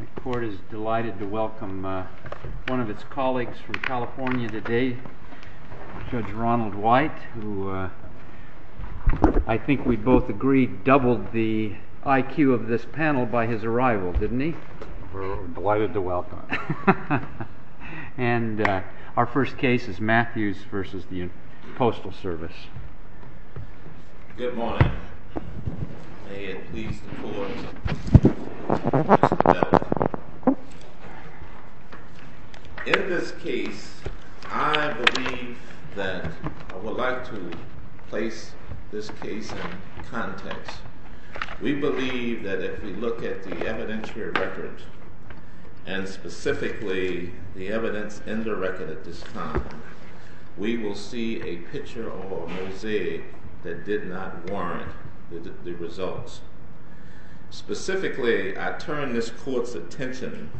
The court is delighted to welcome one of its colleagues from California today, Judge Ronald White, who I think we both agreed doubled the IQ of this panel by his arrival, didn't he? We're delighted to welcome him. And our first case is Matthews v. the Postal Service. Good morning. May it please the court that in this case I believe that I would like to place this case in context. We believe that if we look at the evidentiary record, and specifically the evidence in the record at this time, we will see a picture or a mosaic that did not warrant the results. Specifically, I turn this court's attention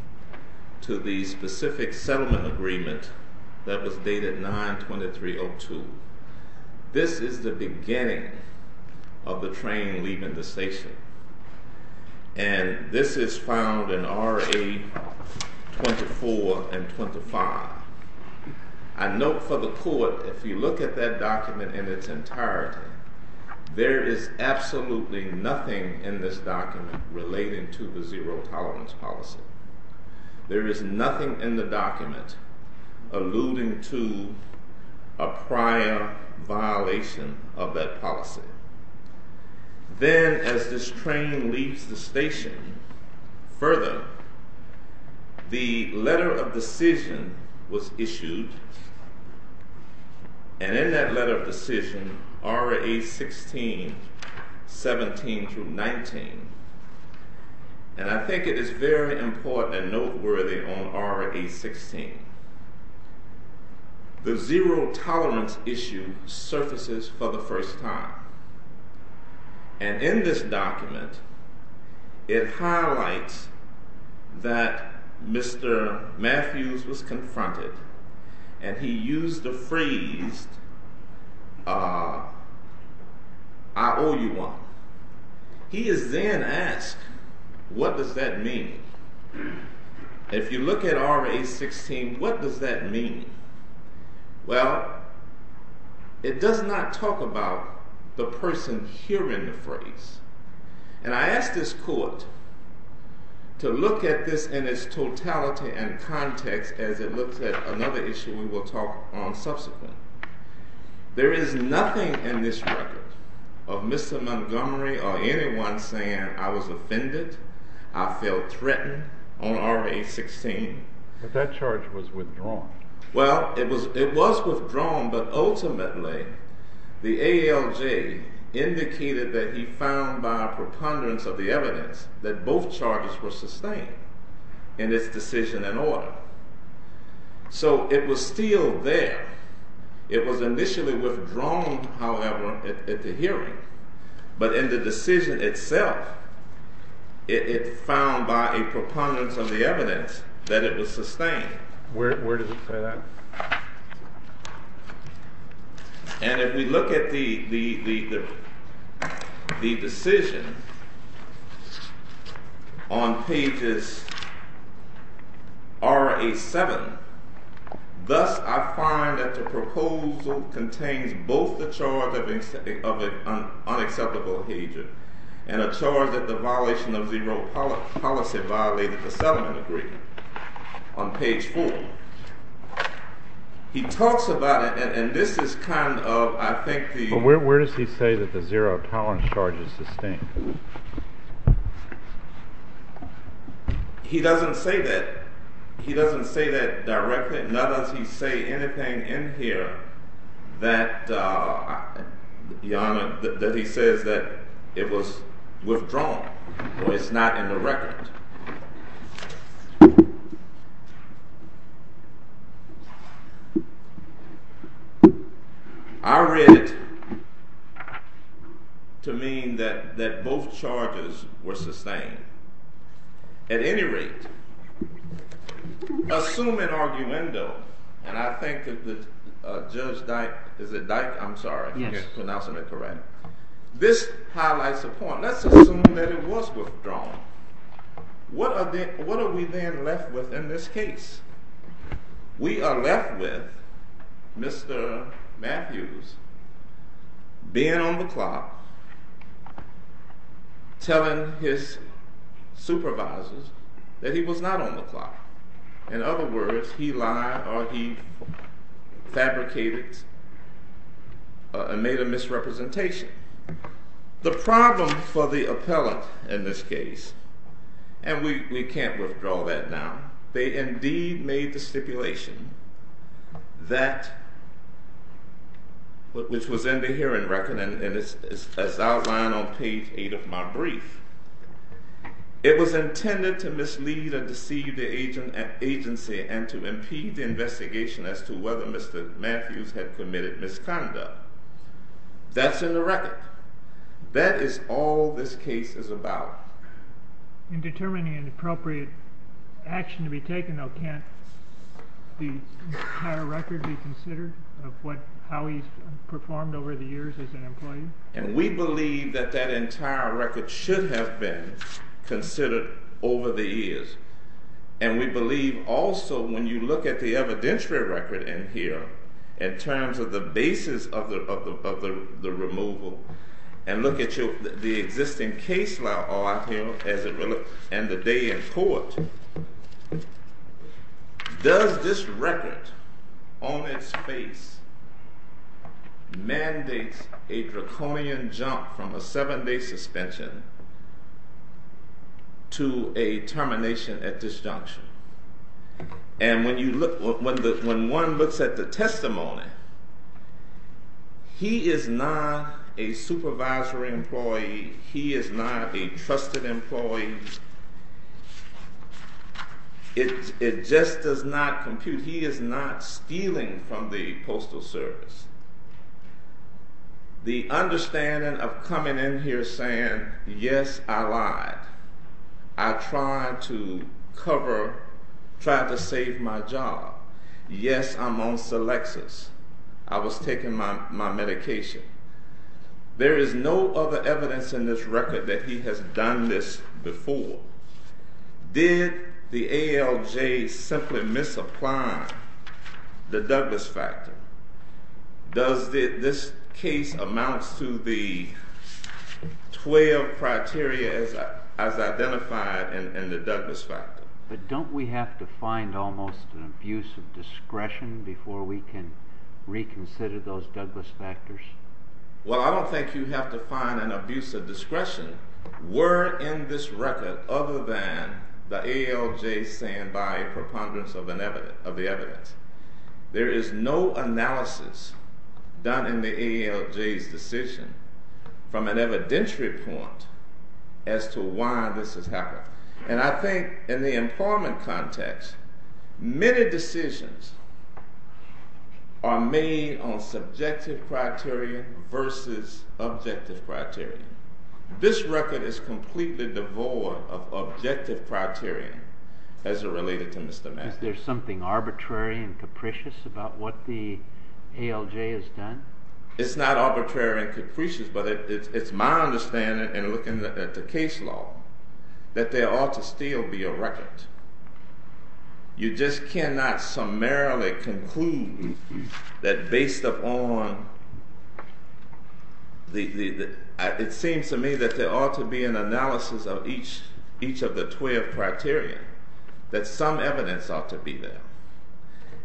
to the specific settlement agreement that was dated 9-2302. This is the beginning of the train leaving the station. And this is found in R.A. 24 and 25. I note for the court, if you look at that document in its entirety, there is absolutely nothing in this document relating to the zero tolerance policy. There is nothing in the document alluding to a prior violation of that policy. Then, as this train leaves the station, further, the letter of decision was issued. And in that letter of decision, R.A. 16, 17-19, and I think it is very important and noteworthy on R.A. 16, the zero tolerance issue surfaces for the first time. And in this document, it highlights that Mr. Matthews was confronted and he used the phrase, I owe you one. He is then asked, what does that mean? If you look at R.A. 16, what does that mean? Well, it does not talk about the person hearing the phrase. And I ask this court to look at this in its totality and context as it looks at another issue we will talk on subsequently. There is nothing in this record of Mr. Montgomery or anyone saying I was offended, I felt threatened on R.A. 16. But that charge was withdrawn. Well, it was withdrawn, but ultimately, the ALJ indicated that he found by a preponderance of the evidence that both charges were sustained in its decision and order. So it was still there. It was initially withdrawn, however, at the hearing. But in the decision itself, it found by a preponderance of the evidence that it was sustained. Where does it say that? And if we look at the decision on pages R.A. 7, thus I find that the proposal contains both the charge of an unacceptable agent and a charge that the violation of zero policy violated the settlement agreement on page 4. He talks about it, and this is kind of, I think, the… Well, where does he say that the zero tolerance charge is sustained? He doesn't say that. He doesn't say that directly. And neither does he say anything in here that, Your Honor, that he says that it was withdrawn or it's not in the record. I read it to mean that both charges were sustained. At any rate, assume an arguendo, and I think that Judge Dyke… Is it Dyke? I'm sorry. I can't pronounce it correctly. This highlights a point. Let's assume that it was withdrawn. What are we then left with in this case? We are left with Mr. Matthews being on the clock, telling his supervisors that he was not on the clock. In other words, he lied or he fabricated and made a misrepresentation. The problem for the appellant in this case, and we can't withdraw that now. They indeed made the stipulation that, which was in the hearing record, and it's outlined on page 8 of my brief. It was intended to mislead or deceive the agency and to impede the investigation as to whether Mr. Matthews had committed misconduct. That's in the record. That is all this case is about. In determining an appropriate action to be taken, though, can't the entire record be considered of how he's performed over the years as an employee? And we believe that that entire record should have been considered over the years. And we believe also when you look at the evidentiary record in here, in terms of the basis of the removal, and look at the existing case law out here and the day in court, does this record on its face mandate a draconian jump from a 7-day suspension to a termination at disjunction? And when one looks at the testimony, he is not a supervisory employee. He is not a trusted employee. It just does not compute. He is not stealing from the Postal Service. The understanding of coming in here saying, yes, I lied. I tried to cover, tried to save my job. Yes, I'm on Selexis. I was taking my medication. There is no other evidence in this record that he has done this before. Did the ALJ simply misapply the Douglas factor? Does this case amount to the 12 criteria as identified in the Douglas factor? But don't we have to find almost an abuse of discretion before we can reconsider those Douglas factors? Well, I don't think you have to find an abuse of discretion were in this record other than the ALJ saying by a preponderance of the evidence. There is no analysis done in the ALJ's decision from an evidentiary point as to why this has happened. And I think in the employment context, many decisions are made on subjective criteria versus objective criteria. This record is completely devoid of objective criteria as it related to Mr. Mack. Is there something arbitrary and capricious about what the ALJ has done? It's not arbitrary and capricious, but it's my understanding in looking at the case law that there ought to still be a record. You just cannot summarily conclude that based upon, it seems to me that there ought to be an analysis of each of the 12 criteria, that some evidence ought to be there.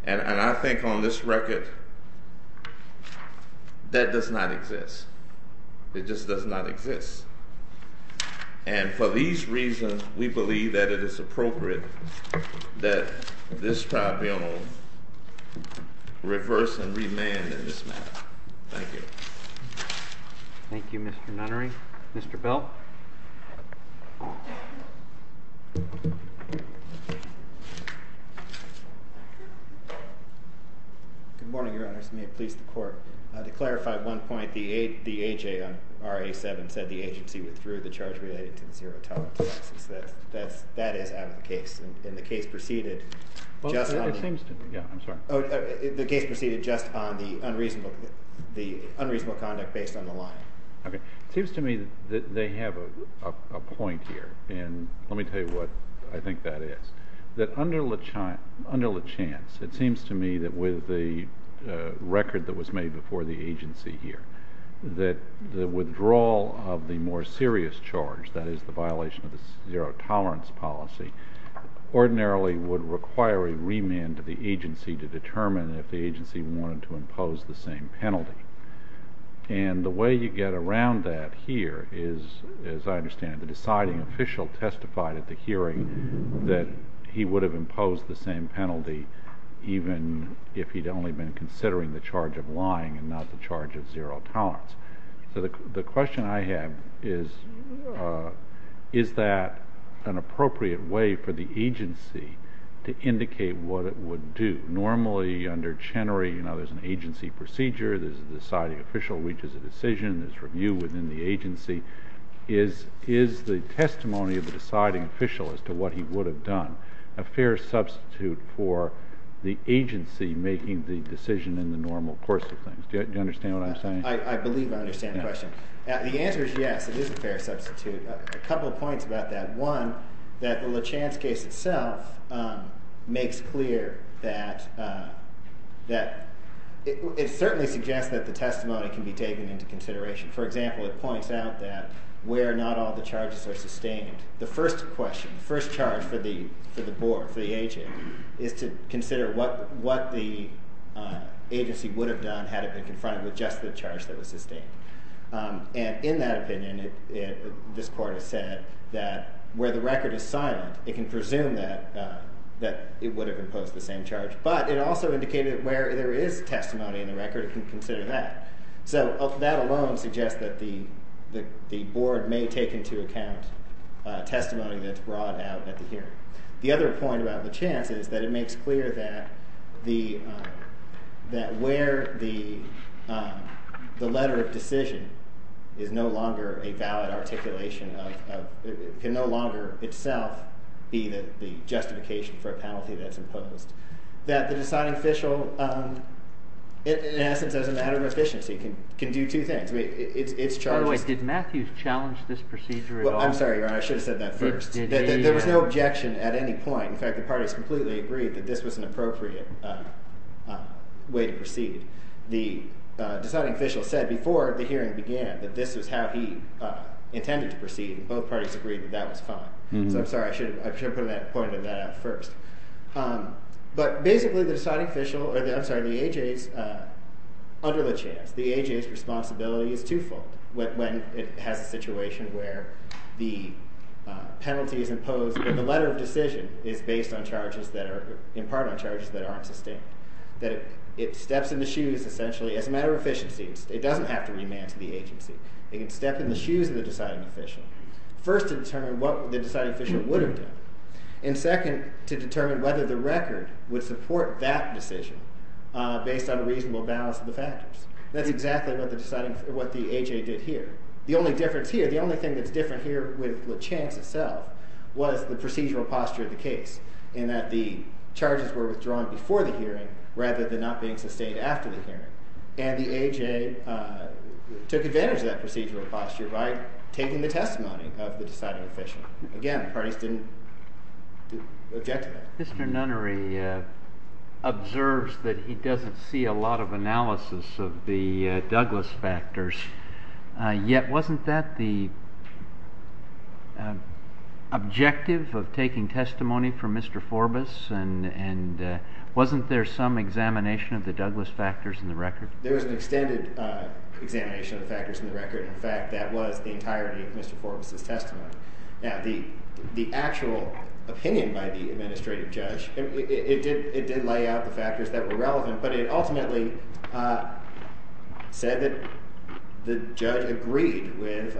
And I think on this record, that does not exist. It just does not exist. And for these reasons, we believe that it is appropriate that this tribunal reverse and remand in this matter. Thank you. Thank you, Mr. Nunnery. Mr. Bell? Good morning, Your Honors. May it please the Court. To clarify one point, the AJ on RA-7 said the agency withdrew the charge relating to the zero tolerance taxes. That is out of the case. And the case proceeded just on the unreasonable conduct based on the line. It seems to me that they have a point here. And let me tell you what I think that is. That under La Chance, it seems to me that with the record that was made before the agency here, that the withdrawal of the more serious charge, that is the violation of the zero tolerance policy, ordinarily would require a remand to the agency to determine if the agency wanted to impose the same penalty. And the way you get around that here is, as I understand it, the deciding official testified at the hearing that he would have imposed the same penalty even if he had only been considering the charge of lying and not the charge of zero tolerance. So the question I have is, is that an appropriate way for the agency to indicate what it would do? Normally under Chenery, you know, there's an agency procedure. There's a deciding official who reaches a decision. There's review within the agency. Is the testimony of the deciding official as to what he would have done a fair substitute for the agency making the decision in the normal course of things? Do you understand what I'm saying? I believe I understand the question. The answer is yes, it is a fair substitute. A couple of points about that. One, that LeChan's case itself makes clear that it certainly suggests that the testimony can be taken into consideration. For example, it points out that where not all the charges are sustained, the first question, the first charge for the board, for the agent, is to consider what the agency would have done had it been confronted with just the charge that was sustained. And in that opinion, this court has said that where the record is silent, it can presume that it would have imposed the same charge. But it also indicated where there is testimony in the record, it can consider that. So that alone suggests that the board may take into account testimony that's brought out at the hearing. The other point about LeChan's is that it makes clear that where the letter of decision is no longer a valid articulation, can no longer itself be the justification for a penalty that's imposed, that the deciding official, in essence, as a matter of efficiency, can do two things. By the way, did Matthews challenge this procedure at all? I'm sorry, Your Honor, I should have said that first. There was no objection at any point. In fact, the parties completely agreed that this was an appropriate way to proceed. The deciding official said before the hearing began that this was how he intended to proceed, and both parties agreed that that was fine. So I'm sorry, I should have pointed that out first. But basically, the deciding official, or I'm sorry, the A.J.'s, under LeChan's, the A.J.'s responsibility is twofold when it has a situation where the penalty is imposed or the letter of decision is based on charges that are, in part, on charges that aren't sustained. That it steps in the shoes, essentially, as a matter of efficiency. It doesn't have to remand to the agency. It can step in the shoes of the deciding official, first, to determine what the deciding official would have done, and second, to determine whether the record would support that decision based on a reasonable balance of the factors. That's exactly what the A.J. did here. The only difference here, the only thing that's different here with LeChan's itself, was the procedural posture of the case in that the charges were withdrawn before the hearing rather than not being sustained after the hearing. And the A.J. took advantage of that procedural posture by taking the testimony of the deciding official. Again, the parties didn't object to that. Mr. Nunnery observes that he doesn't see a lot of analysis of the Douglas factors, yet wasn't that the objective of taking testimony from Mr. Forbus, and wasn't there some examination of the Douglas factors in the record? There was an extended examination of the factors in the record. In fact, that was the entirety of Mr. Forbus' testimony. Now, the actual opinion by the administrative judge, it did lay out the factors that were relevant, but it ultimately said that the judge agreed with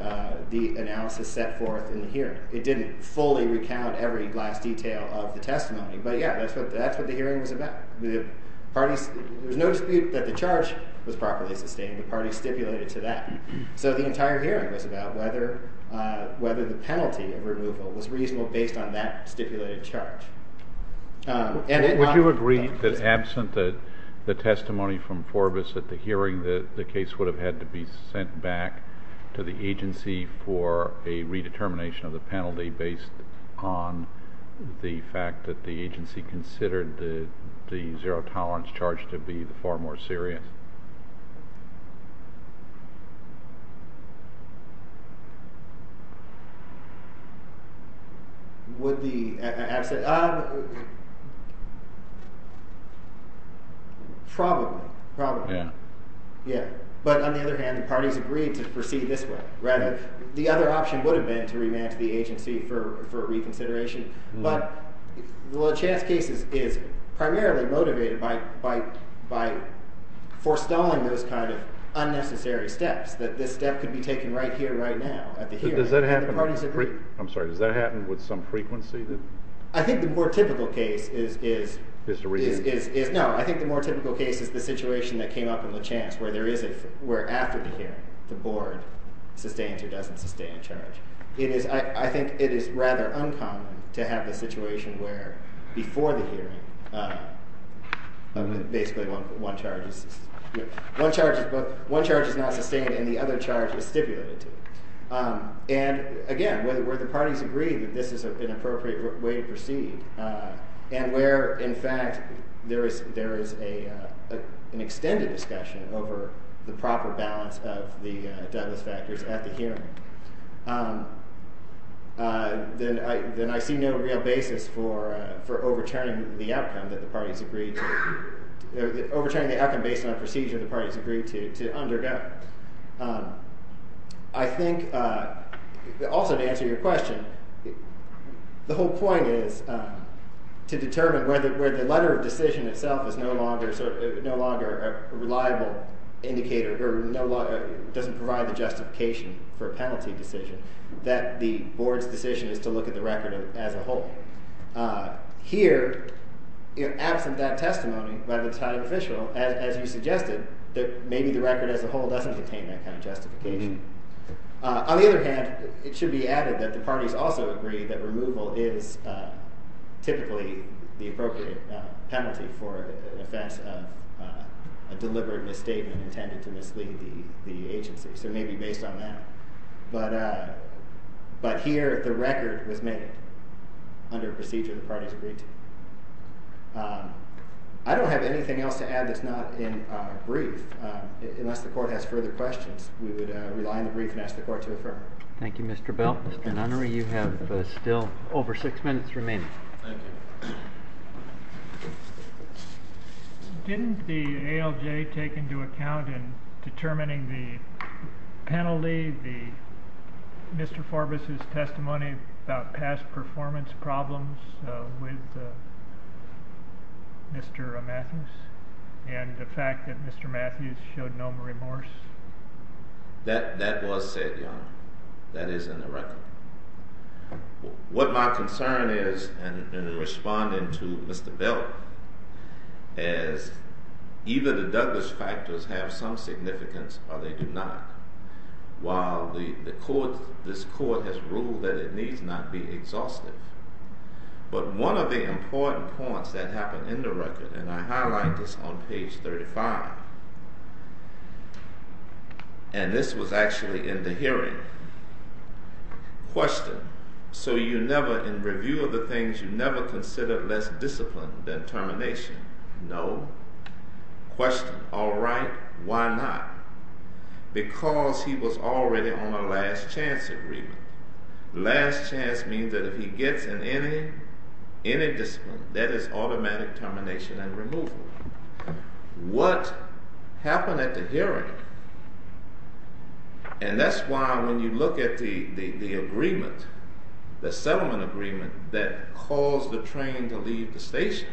the analysis set forth in the hearing. It didn't fully recount every last detail of the testimony, but, yeah, that's what the hearing was about. There was no dispute that the charge was properly sustained. The parties stipulated to that. So the entire hearing was about whether the penalty of removal was reasonable based on that stipulated charge. Would you agree that absent the testimony from Forbus at the hearing, the case would have had to be sent back to the agency for a redetermination of the penalty based on the fact that the agency considered the zero-tolerance charge to be far more serious? Probably. But, on the other hand, the parties agreed to proceed this way. The other option would have been to remand to the agency for reconsideration, but the La Chance case is primarily motivated by forestalling those kind of unnecessary steps, that this step could be taken right here, right now at the hearing. Does that happen with some frequency? I think the more typical case is the situation that came up in La Chance, where after the hearing the board sustains or doesn't sustain a charge. I think it is rather uncommon to have a situation where, before the hearing, basically one charge is not sustained and the other charge is stipulated to it. And, again, where the parties agreed that this is an appropriate way to proceed, and where, in fact, there is an extended discussion over the proper balance of the doubtless factors at the hearing, then I see no real basis for overturning the outcome based on a procedure the parties agreed to undergo. I think, also to answer your question, the whole point is to determine where the letter of decision itself is no longer a reliable indicator, or doesn't provide the justification for a penalty decision, that the board's decision is to look at the record as a whole. Here, absent that testimony by the deciding official, as you suggested, maybe the record as a whole doesn't obtain that kind of justification. On the other hand, it should be added that the parties also agree that removal is typically the appropriate penalty for an offense of a deliberate misstatement intended to mislead the agency. So maybe based on that. But here the record was made under a procedure the parties agreed to. I don't have anything else to add that's not in our brief. Unless the court has further questions, we would rely on the brief and ask the court to affirm. Thank you, Mr. Bell. Mr. Nonnery, you have still over six minutes remaining. Thank you. Didn't the ALJ take into account in determining the penalty, Mr. Forbus' testimony about past performance problems with Mr. Matthews, and the fact that Mr. Matthews showed no remorse? That was said, Your Honor. That is in the record. What my concern is, in responding to Mr. Bell, is either the Douglas factors have some significance or they do not. While this court has ruled that it needs not be exhaustive. But one of the important points that happened in the record, and I highlight this on page 35, and this was actually in the hearing. Question. So you never, in review of the things, you never considered less discipline than termination? No. Question. All right. Why not? Because he was already on a last chance agreement. Last chance means that if he gets in any discipline, that is automatic termination and removal. What happened at the hearing, and that's why when you look at the agreement, the settlement agreement that caused the train to leave the station,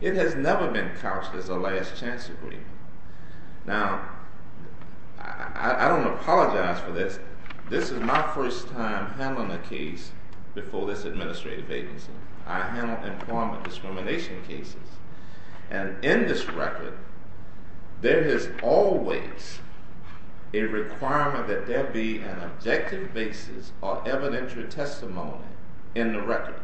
it has never been couched as a last chance agreement. Now, I don't apologize for this. This is my first time handling a case before this administrative agency. I handle employment discrimination cases. And in this record, there is always a requirement that there be an objective basis or evidentiary testimony in the record.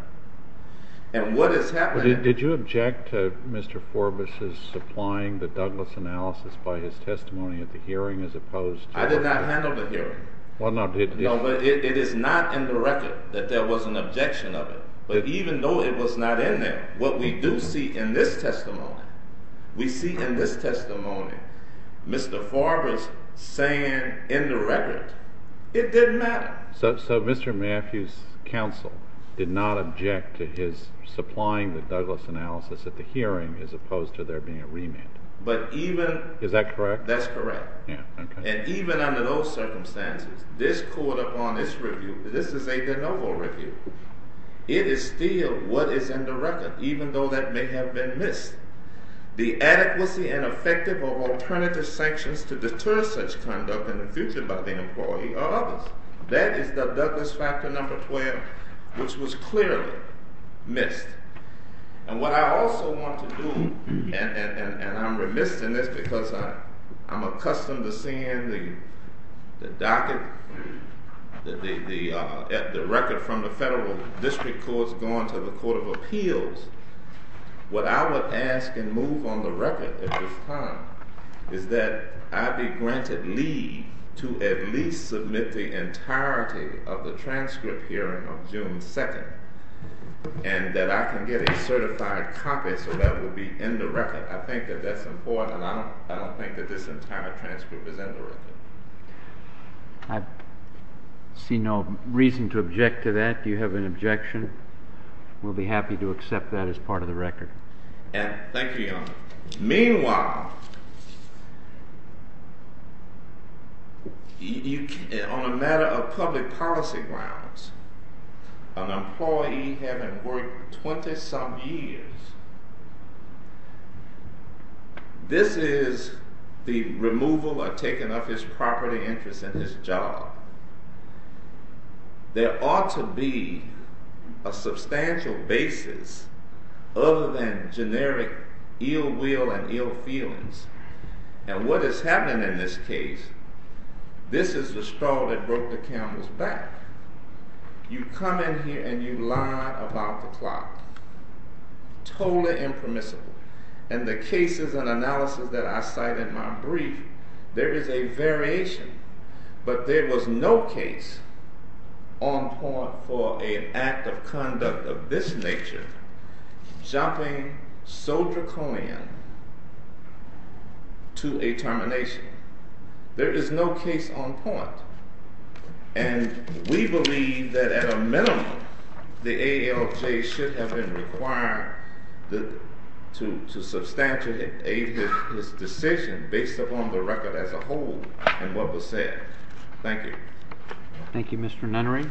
And what has happened... Mr. Forbus is supplying the Douglas analysis by his testimony at the hearing as opposed to... I did not handle the hearing. No, but it is not in the record that there was an objection of it. But even though it was not in there, what we do see in this testimony, we see in this testimony Mr. Forbus saying in the record it didn't matter. So Mr. Matthews' counsel did not object to his supplying the Douglas analysis at the hearing as opposed to there being a remand. But even... Is that correct? That's correct. And even under those circumstances, this court upon its review, this is a de novo review, it is still what is in the record, even though that may have been missed. The adequacy and effective of alternative sanctions to deter such conduct in the future by the employee are others. That is the Douglas factor number 12, which was clearly missed. And what I also want to do, and I'm remiss in this because I'm accustomed to seeing the docket, the record from the federal district courts going to the court of appeals, what I would ask and move on the record at this time is that I be granted leave to at least submit the entirety of the transcript hearing on June 2nd and that I can get a certified copy so that would be in the record. I think that that's important. I don't think that this entire transcript is indirect. I see no reason to object to that. Do you have an objection? We'll be happy to accept that as part of the record. Thank you, Your Honor. Meanwhile, on a matter of public policy grounds, an employee having worked 20-some years, this is the removal or taking of his property interest and his job. There ought to be a substantial basis other than generic ill will and ill feelings. And what is happening in this case, this is the straw that broke the camel's back. You come in here and you lie about the clock. Totally impermissible. In the cases and analysis that I cite in my brief, there is a variation, but there was no case on point for an act of conduct of this nature, jumping soldier coin to a termination. There is no case on point. And we believe that at a minimum, the ALJ should have been required to substantially aid his decision based upon the record as a whole and what was said. Thank you. Thank you, Mr. Nunnery.